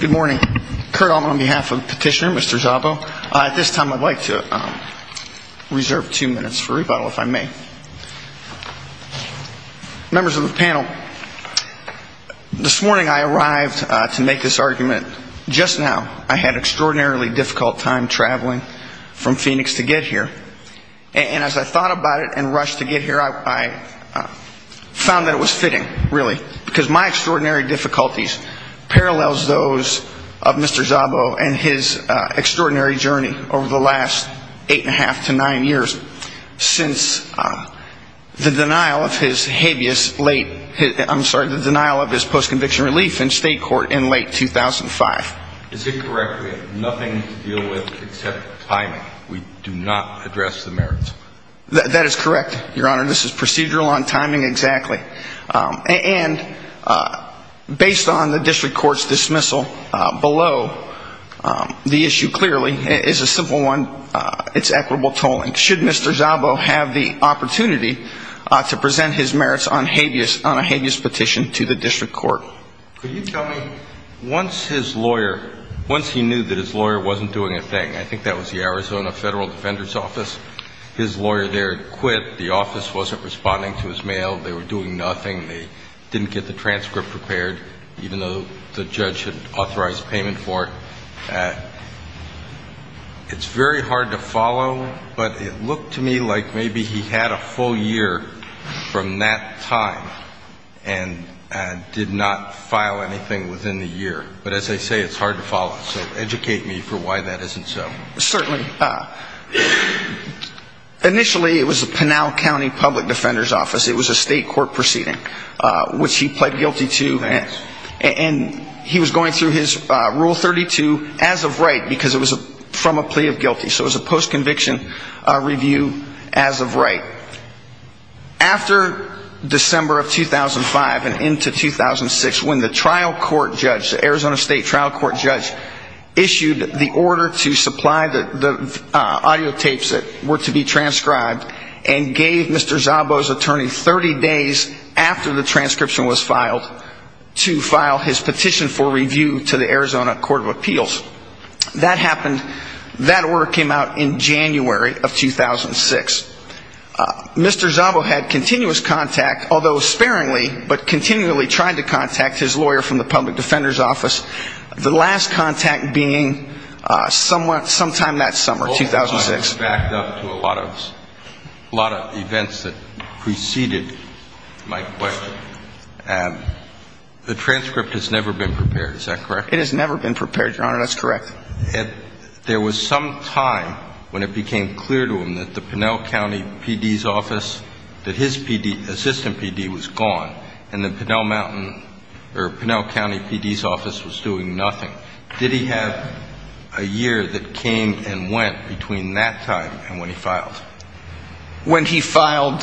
Good morning. Kurt Alman on behalf of Petitioner, Mr. Szabo. At this time, I'd like to reserve two minutes for rebuttal, if I may. Members of the panel, this morning I arrived to make this argument. Just now, I had an extraordinarily difficult time traveling from Phoenix to get here. And as I thought about it and rushed to get here, I found that it was fitting, really, because my extraordinary difficulties parallels those of Mr. Szabo and his extraordinary journey over the last eight and a half to nine years since the denial of his habeas late, I'm sorry, the denial of his post-conviction relief in state court in late 2005. Is it correct we have nothing to deal with except timing? We do not address the merits? That is correct, Your Honor. This is procedural on timing, exactly. And based on the district court's dismissal below the issue, clearly, is a simple one. It's equitable tolling. Should Mr. Szabo have the opportunity to present his merits on habeas, on a habeas petition to the district court? Well, could you tell me, once his lawyer, once he knew that his lawyer wasn't doing a thing, I think that was the Arizona Federal Defender's Office, his lawyer there had quit. The office wasn't responding to his mail. They were doing nothing. They didn't get the transcript prepared, even though the judge had authorized payment for it. It's very hard to follow, but it looked to me like maybe he had a full year from that time and did not file anything within the year. But as I say, it's hard to follow. So educate me for why that isn't so. Certainly. Initially, it was the Pinal County Public Defender's Office. It was a state court proceeding, which he pled guilty to. And he was going through his Rule 32 as of right, because it was from a plea of guilty. So it was a post-conviction review as of right. After December of 2005 and into 2006, when the trial court judge, the Arizona State trial court judge issued the order to supply the audio tapes that were to be transcribed and gave Mr. Szabo's attorney 30 days after the transcription was filed to file his petition for review to the Arizona Court of Appeals. That happened, that order came out in January of 2006. Mr. Szabo had continuous contact, although sparingly, but continually tried to contact his lawyer from the Public Defender's Office, the last contact being sometime that summer, 2006. The transcript has never been prepared, is that correct? It has never been prepared, Your Honor, that's correct. There was some time when it became clear to him that the Pinal County PD's office, that his assistant PD was gone, and the Pinal County PD's office was doing nothing. Did he have a year that came and went between that time and when he filed?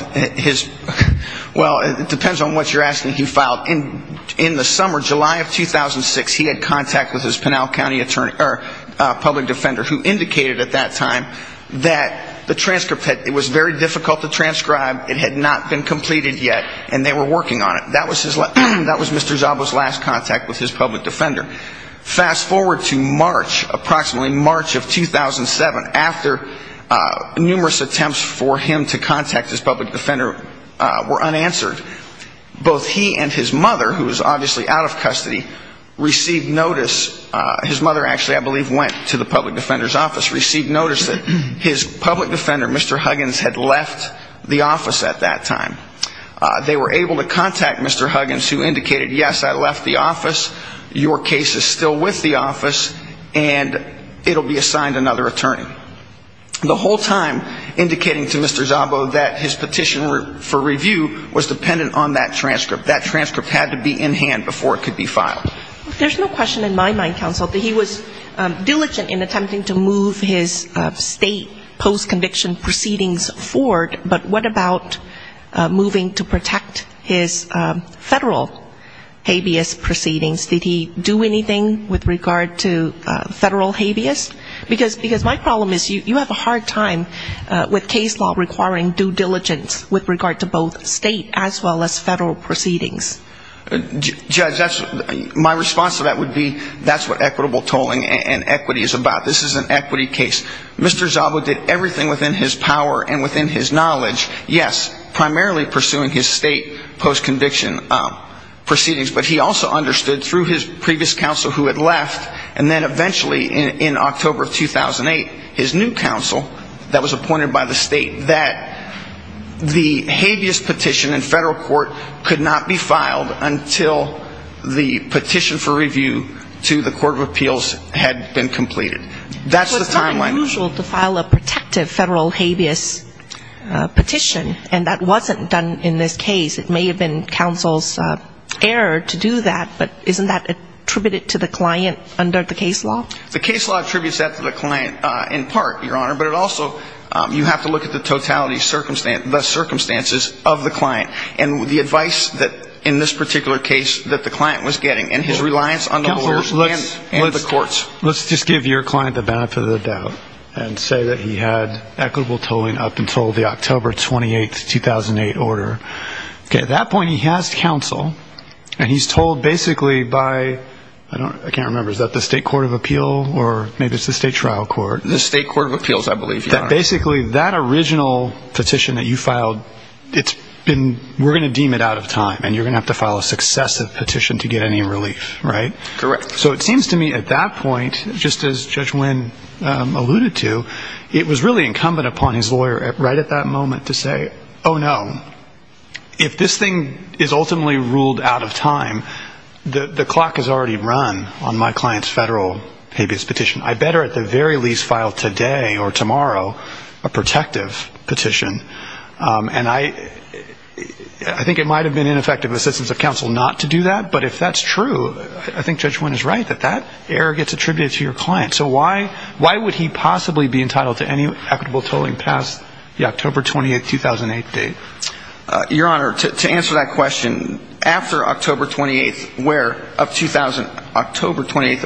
Well, it depends on what you're asking. He filed in the summer, July of 2006. He had contact with his Pinal County public defender who indicated at that time that the transcript, it was very difficult to transcribe, it had not been completed yet, and they were working on it. That was Mr. Szabo's last contact with his public defender. Fast forward to March, approximately March of 2007, after numerous attempts for him to contact his public defender were unanswered. Both he and his mother, who was obviously out of custody, received notice, his mother actually, I believe, went to the public defender's office, received notice that his public defender, Mr. Huggins, had left the office at that time. They were able to contact Mr. Huggins who indicated, yes, I left the office, your case is still with the office, and it will be assigned another attorney. The whole time indicating to Mr. Szabo that his petition for review was dependent on that transcript. That transcript had to be in hand before it could be filed. There's no question in my mind, counsel, that he was diligent in attempting to move his state post-conviction proceedings forward, but what about moving to protect his federal habeas proceedings? Did he do anything with regard to federal habeas? Because my problem is you have a hard time with case law requiring due diligence with regard to both state as well as federal proceedings. Judge, my response to that would be that's what equitable tolling and equity is about. This is an equity case. Mr. Szabo did everything within his power and within his knowledge, yes, primarily pursuing his state post-conviction proceedings, but he also understood through his previous counsel who had left, and then eventually in October of 2008, his new counsel that was appointed by the state, that the habeas petition in federal court could not be filed. Until the petition for review to the court of appeals had been completed. That's the timeline. So it's not unusual to file a protective federal habeas petition, and that wasn't done in this case. It may have been counsel's error to do that, but isn't that attributed to the client under the case law? The case law attributes that to the client in part, Your Honor, but it also, you have to look at the totality, the circumstances of the client and the advice that in this particular case that the client was getting and his reliance on the lawyers and the courts. Let's just give your client the benefit of the doubt and say that he had equitable tolling up until the October 28, 2008 order. At that point, he has counsel, and he's told basically by, I can't remember, is that the state court of appeal or maybe it's the state trial court? The state court of appeals, I believe. Basically, that original petition that you filed, we're going to deem it out of time, and you're going to have to file a successive petition to get any relief, right? Correct. So it seems to me at that point, just as Judge Wynn alluded to, it was really incumbent upon his lawyer right at that moment to say, oh, no, if this thing is ultimately ruled out of time, the clock has already run on my client's federal habeas petition. I better at the very least file today or tomorrow a protective petition, and I think it might have been ineffective assistance of counsel not to do that, but if that's true, I think Judge Wynn is right that that error gets attributed to your client. So why would he possibly be entitled to any equitable tolling past the October 28, 2008 date? Your Honor, to answer that question, after October 28th of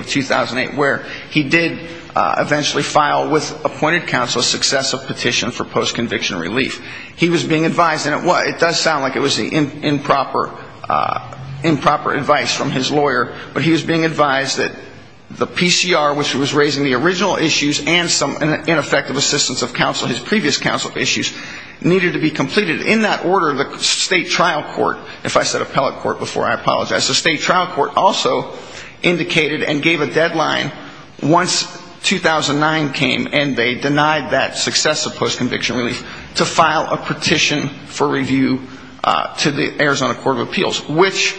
2008 where he did eventually file with appointed counsel a successive petition for post-conviction relief, he was being advised, and it does sound like it was the improper advice from his lawyer, but he was being advised that the PCR, which was raising the original issues and some ineffective assistance of counsel, his previous counsel issues, needed to be completed in order to get any relief. In that order, the state trial court, if I said appellate court before, I apologize, the state trial court also indicated and gave a deadline once 2009 came and they denied that successive post-conviction relief to file a petition for review to the Arizona Court of Appeals, which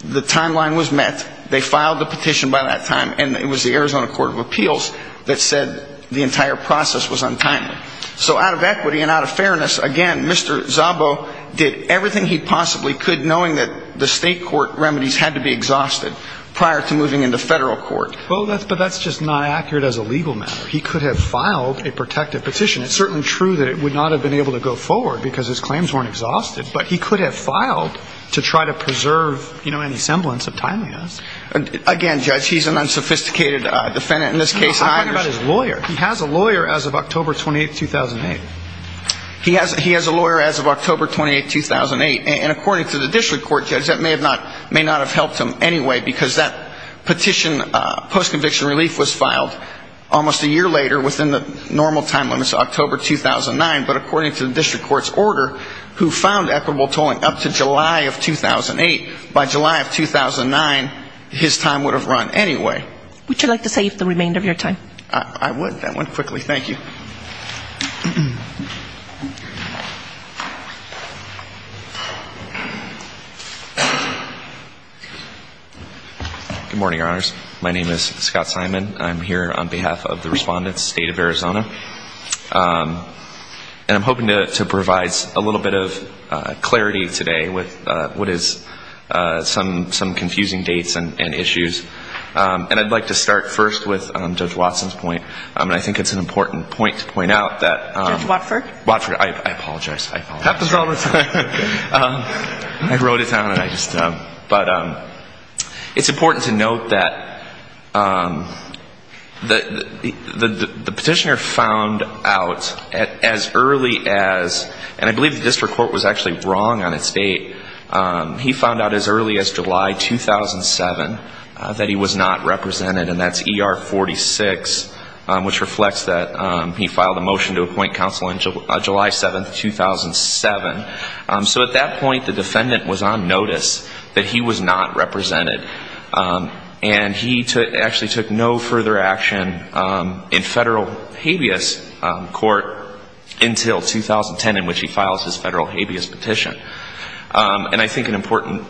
the timeline was met, they filed the petition by that time, and it was the Arizona Court of Appeals that said the entire process was untimely. So out of equity and out of fairness, again, Mr. Szabo did everything he possibly could knowing that the state court remedies had to be exhausted prior to moving into federal court. But that's just not accurate as a legal matter. He could have filed a protective petition. It's certainly true that it would not have been able to go forward because his claims weren't exhausted, but he could have filed to try to preserve any semblance of timeliness. Again, Judge, he's an unsophisticated defendant in this case. I'm talking about his lawyer. He has a lawyer as of October 28, 2008. He has a lawyer as of October 28, 2008. And according to the district court, Judge, that may not have helped him anyway because that petition, post-conviction relief was filed almost a year later within the normal time limits of October 2009. But according to the district court's order, who found equitable tolling up to July of 2008, by July of 2009, his time would have run anyway. Would you like to save the remainder of your time? I would. That went quickly. Thank you. Good morning, Your Honors. My name is Scott Simon. I'm here on behalf of the Respondent's State of Arizona. And I'm hoping to provide a little bit of clarity today with what is some confusing dates and issues. And I'd like to start first with Judge Watson's point. And I think it's an important point to point out that ‑‑ Judge Watford? Watford. I apologize. I apologize. Happens all the time. I wrote it down. But it's important to note that the petitioner found out as early as ‑‑ and I believe the district court was actually wrong on its date. He found out as early as July 2007 that he was not represented. And that's ER 46, which reflects that he filed a motion to appoint counsel on July 7, 2007. So at that point, the defendant was on notice that he was not represented. And he actually took no further action in federal habeas court until 2010, in which he files his federal habeas petition. And I think an important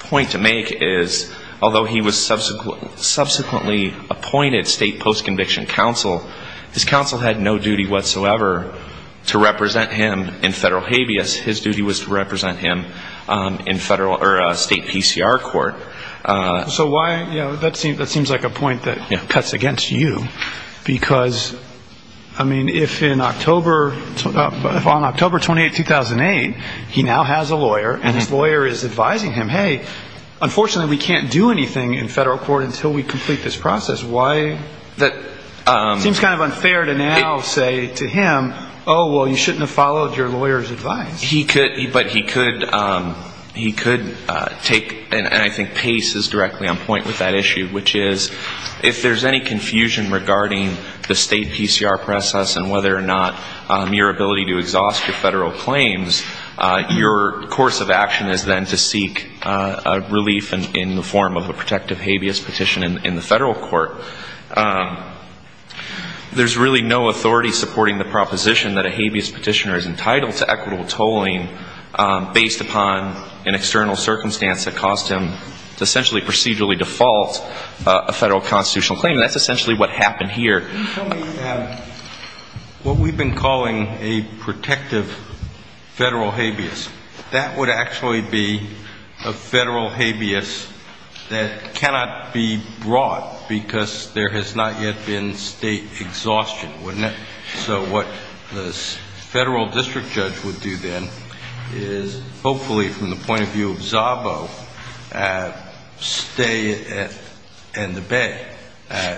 point to make is, although he was subsequently appointed state post‑conviction counsel, his counsel had no duty whatsoever to represent him in federal habeas. His duty was to represent him in federal ‑‑ or state PCR court. So why ‑‑ you know, that seems like a point that cuts against you. Because, I mean, if in October ‑‑ if on October 28, 2008, he now has a lawyer and his lawyer is advising him, hey, unfortunately we can't do anything in federal court until we complete this process. Why ‑‑ seems kind of unfair to now say to him, oh, well, you shouldn't have followed your lawyer's advice. He could, but he could ‑‑ he could take, and I think Pace is directly on point with that issue, which is if there's any confusion regarding the state PCR process and whether or not your ability to exhaust your federal claims, your course of action is then to seek relief in the form of a protective habeas petition in the federal court. There's really no authority supporting the proposition that a habeas petitioner is entitled to equitable tolling based upon an external circumstance that caused him to essentially procedurally default a federal constitutional claim. That's essentially what happened here. Can you tell me what we've been calling a protective federal habeas? That would actually be a federal habeas that cannot be brought because there has not yet been state exhaustion, wouldn't it? So what the federal district judge would do then is hopefully from the point of view of Zabo, stay it in the bay.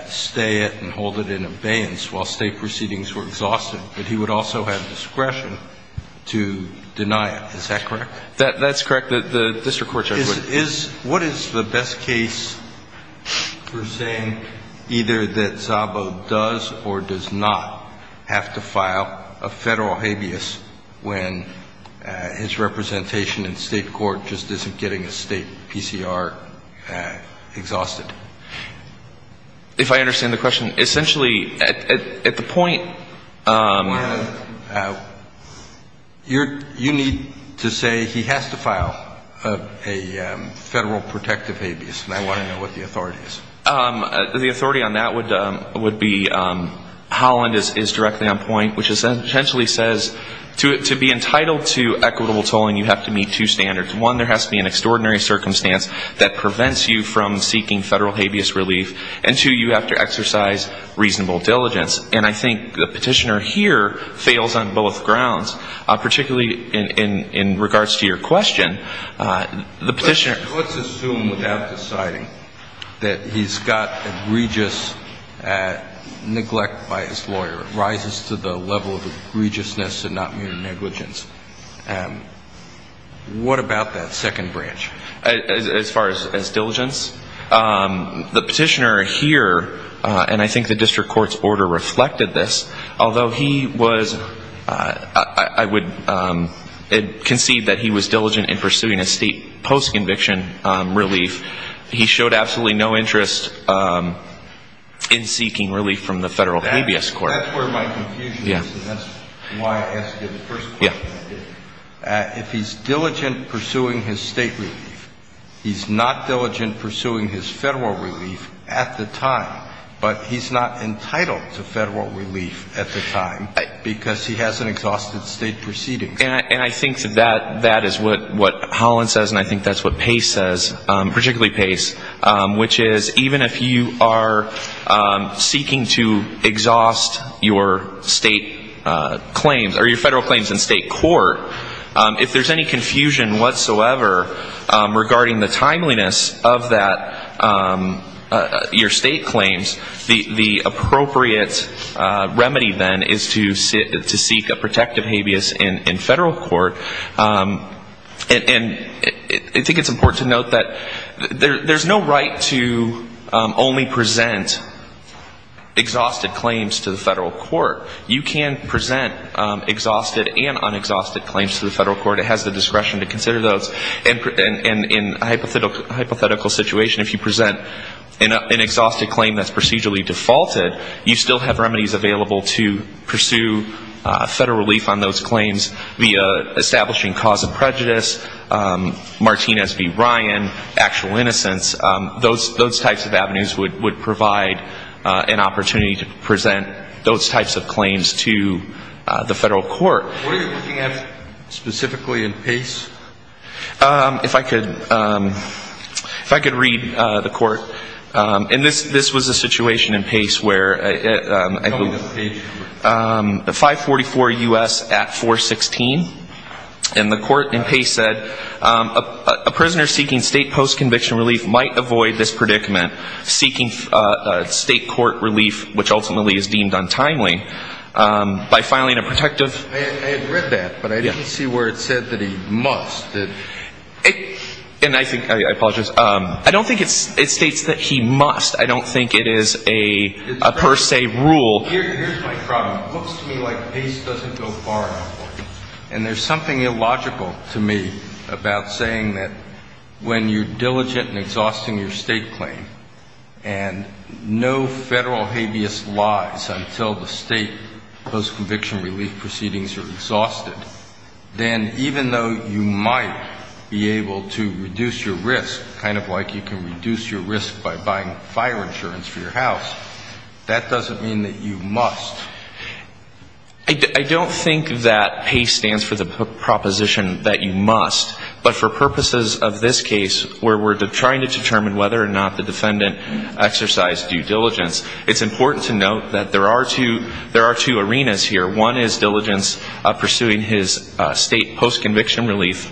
Stay it and hold it in abeyance while state proceedings were exhausted, but he would also have discretion to deny it. Is that correct? That's correct. The district court judge would ‑‑ What is the best case for saying either that Zabo does or does not have to file a federal habeas when his representation in state court just isn't getting a state PCR exhausted? If I understand the question, essentially at the point ‑‑ You need to say he has to file a federal protective habeas, and I want to know what the authority is. The authority on that would be Holland is directly on point, which essentially says to be entitled to equitable tolling, you have to meet two standards. One, there has to be an extraordinary circumstance that prevents you from seeking federal habeas relief, and two, you have to exercise reasonable diligence. And I think the petitioner here fails on both grounds, particularly in regards to your question. The petitioner ‑‑ Let's assume without deciding that he's got egregious neglect by his lawyer. It rises to the level of egregiousness and not mere negligence. What about that second branch? As far as diligence, the petitioner here, and I think the district court's order reflected this, although he was ‑‑ I would concede that he was diligent in pursuing a state post‑conviction relief, he showed absolutely no interest in seeking relief from the federal habeas court. That's where my confusion is, and that's why I asked you the first question. If he's diligent pursuing his state relief, he's not diligent pursuing his federal relief at the time, but he's not entitled to federal relief at the time because he hasn't exhausted state proceedings. And I think that is what Holland says, and I think that's what Pace says, particularly Pace, which is even if you are seeking to exhaust your state claims or your federal claims in state court, if there's any confusion whatsoever regarding the timeliness of that, your state claims, the appropriate remedy then is to seek a protective habeas in federal court. And I think it's important to note that there's no right to only present exhausted claims to the federal court. You can present exhausted and unexhausted claims to the federal court. It has the discretion to consider those. And in a hypothetical situation, if you present an exhausted claim that's procedurally defaulted, you still have remedies available to pursue federal relief on those claims via establishing cause of prejudice, Martinez v. Ryan, actual innocence. Those types of avenues would provide an opportunity to present those types of claims to the federal court. What are you looking at specifically in Pace? If I could read the court, and this was a situation in Pace where 544 U.S. at 416, and the court in Pace said, a prisoner seeking state post-conviction relief might avoid this predicament, seeking state court relief, which ultimately is deemed untimely, by filing a protective. I had read that, but I didn't see where it said that he must. And I think, I apologize, I don't think it states that he must. I don't think it is a per se rule. Here's my problem. It looks to me like Pace doesn't go far enough. And there's something illogical to me about saying that when you're diligent in exhausting your state claim and no federal habeas lies until the state post-conviction relief proceedings are exhausted, then even though you might be able to reduce your risk, kind of like you can reduce your risk by buying fire insurance for your house, that doesn't mean that you must. I don't think that Pace stands for the proposition that you must, but for purposes of this case, where we're trying to determine whether or not the defendant exercised due diligence, it's important to note that there are two arenas here. One is diligence pursuing his state post-conviction relief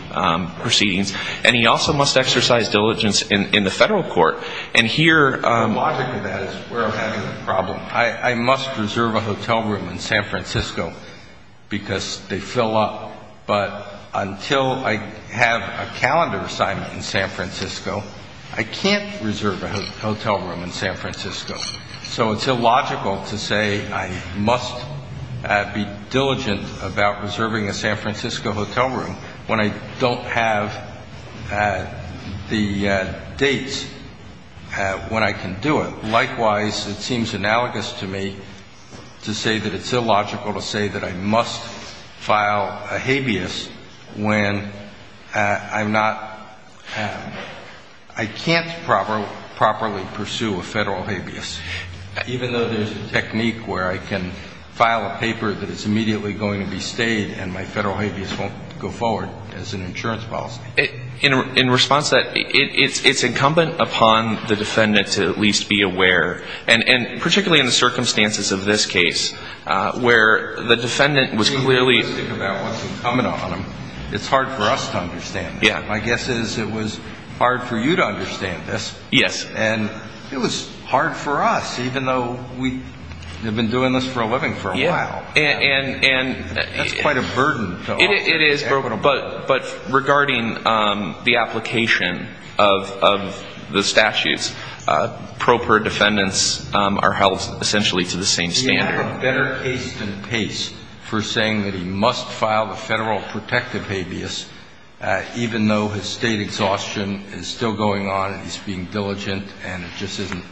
proceedings, and he also must exercise diligence in the federal court. And here the logic of that is where I'm having a problem. I must reserve a hotel room in San Francisco because they fill up, but until I have a calendar assignment in San Francisco, I can't reserve a hotel room in San Francisco. So it's illogical to say I must be diligent about reserving a San Francisco hotel room when I don't have the dates when I can do it. And likewise, it seems analogous to me to say that it's illogical to say that I must file a habeas when I'm not, I can't properly pursue a federal habeas, even though there's a technique where I can file a paper that is immediately going to be stayed and my federal habeas won't go forward as an insurance policy. In response to that, it's incumbent upon the defendant to at least be aware, and particularly in the circumstances of this case, where the defendant was clearly... It's hard for us to understand. Yeah. My guess is it was hard for you to understand this. Yes. And it was hard for us, even though we had been doing this for a living for a while. Yeah. And... That's quite a burden. It is, but regarding the application of the statutes, proper defendants are held essentially to the same standard. He had a better case than Pace for saying that he must file a federal protective habeas, even though his state exhaustion is still going on and he's being diligent and it just isn't...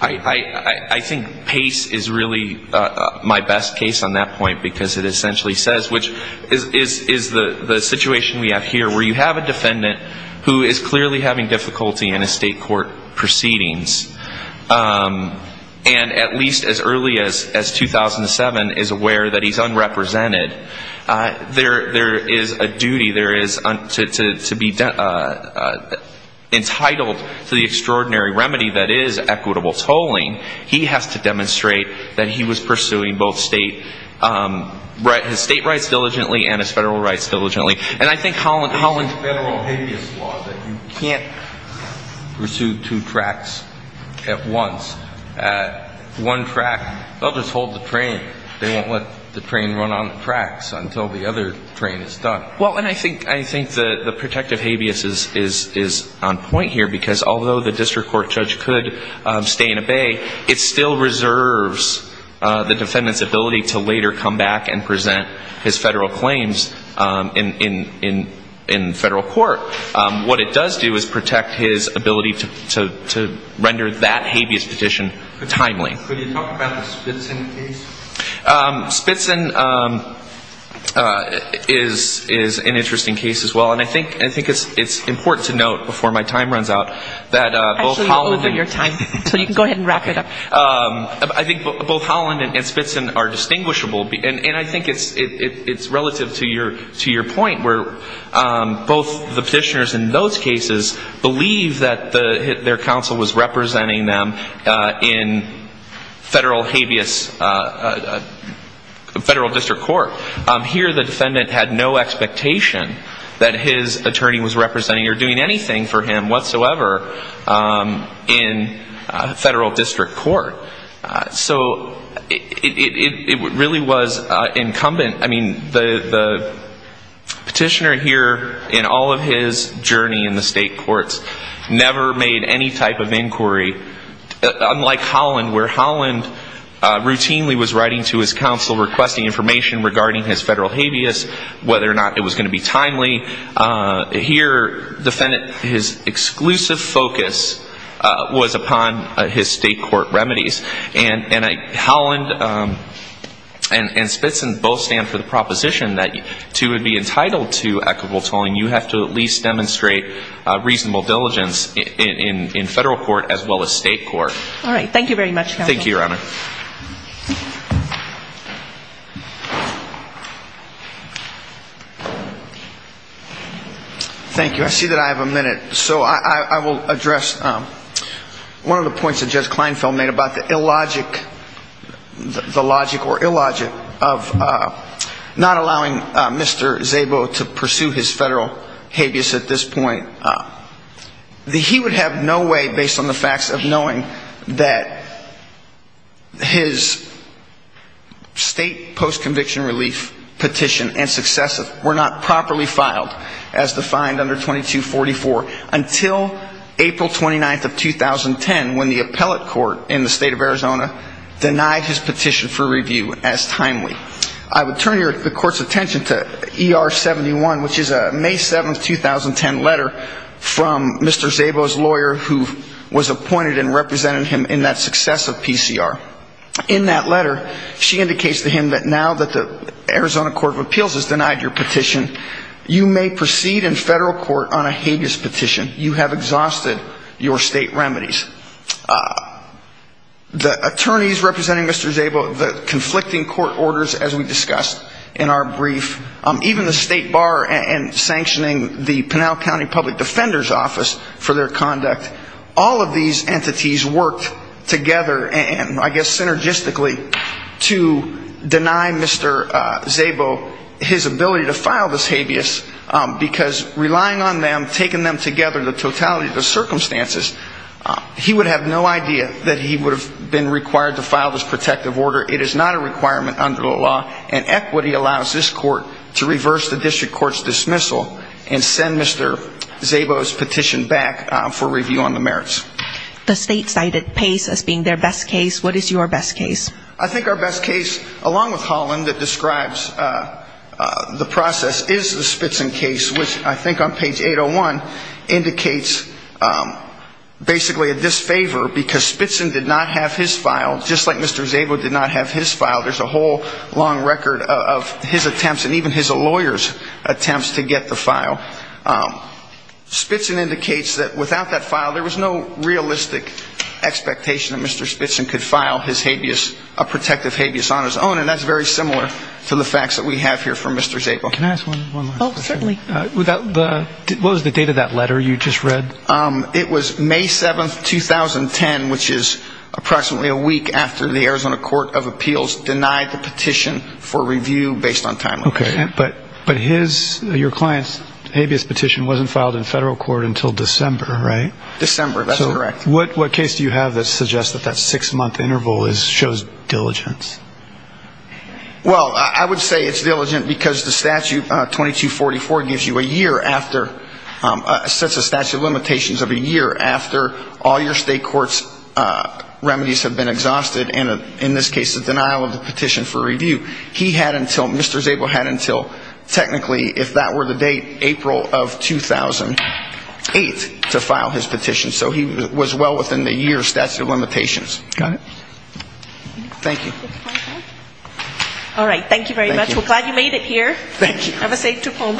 I think Pace is really my best case on that point because it essentially says, which is the situation we have here, where you have a defendant who is clearly having difficulty in his state court proceedings and at least as early as 2007 is aware that he's unrepresented. There is a duty to be entitled to the extraordinary remedy that is equitable tolling. He has to demonstrate that he was pursuing both state rights diligently and his federal rights diligently. And I think Holland... It's a federal habeas law that you can't pursue two tracks at once. One track, they'll just hold the train. They won't let the train run on the tracks until the other train is done. Well, and I think the protective habeas is on point here because although the district court judge could stay and obey, it still reserves the defendant's ability to later come back and present his federal claims in federal court. What it does do is protect his ability to render that habeas petition timely. Could you talk about the Spitzen case? Spitzen is an interesting case as well. And I think it's important to note before my time runs out that both Holland... Actually, you're over your time. So you can go ahead and wrap it up. I think both Holland and Spitzen are distinguishable. And I think it's relative to your point where both the petitioners in those cases believe that their counsel was representing them in federal habeas, federal district court. Here, the defendant had no expectation that his attorney was representing or doing anything for him whatsoever in federal district court. So it really was incumbent. I mean, the petitioner here in all of his journey in the state courts never made any type of inquiry, unlike Holland, where Holland routinely was writing to his counsel requesting information regarding his federal habeas, whether or not it was going to be timely. Here, his exclusive focus was upon his state court remedies. And Holland and Spitzen both stand for the proposition that to be entitled to equitable tolling, you have to at least demonstrate reasonable diligence in federal court as well as state court. All right. Thank you very much, counsel. Thank you, Your Honor. Thank you. I see that I have a minute. So I will address one of the points that Judge Kleinfeld made about the illogic, the logic or illogic of not allowing Mr. Szabo to pursue his federal habeas at this point. He would have no way, based on the facts of knowing that his state post-conviction relief petition and successive were not properly filed as defined under 2244 until April 29th of 2010, when the appellate court in the state of Arizona denied his petition for review as timely. I would turn the court's attention to ER71, which is a May 7th, 2010 letter from Mr. Szabo's lawyer who was appointed and represented him in that successive PCR. In that letter, she indicates to him that now that the Arizona Court of Appeals has denied your petition, you may proceed in federal court on a habeas petition. You have exhausted your state remedies. The attorneys representing Mr. Szabo, the conflicting court orders as we discussed in our brief, even the state bar and sanctioning the Pinal County Public Defender's Office for their conduct, all of these entities worked together and I guess synergistically to deny Mr. Szabo his ability to file this habeas because relying on them, taking them together, the totality of the circumstances, he would have no idea that he would have been required to file this protective order. It is not a requirement under the law and equity allows this court to reverse the district court's dismissal and send Mr. Szabo's petition back for review on the merits. The state cited Pace as being their best case. What is your best case? I think our best case, along with Holland, that describes the process is the Spitzin case, which I think on page 801 indicates basically a disfavor because Spitzin did not have his file, just like Mr. Szabo did not have his file. There's a whole long record of his attempts and even his lawyer's attempts to get the file. Spitzin indicates that without that file, there was no realistic expectation that Mr. Spitzin could file his habeas, a protective habeas on his own and that's very similar to the facts that we have here for Mr. Szabo. Can I ask one last question? Oh, certainly. What was the date of that letter you just read? It was May 7th, 2010, which is approximately a week after the Arizona Court of Appeals denied the petition for review based on time. Okay, but your client's habeas petition wasn't filed in federal court until December, right? December, that's correct. So what case do you have that suggests that that six-month interval shows diligence? Well, I would say it's diligent because the statute 2244 gives you a year after, sets a statute of limitations of a year after all your state court's remedies have been exhausted and, in this case, the denial of the petition for review. He had until, Mr. Szabo had until technically, if that were the date, April of 2008 to file his petition. So he was well within the year statute of limitations. Got it. Thank you. All right. Thank you very much. We're glad you made it here. Thank you. Have a safe trip home.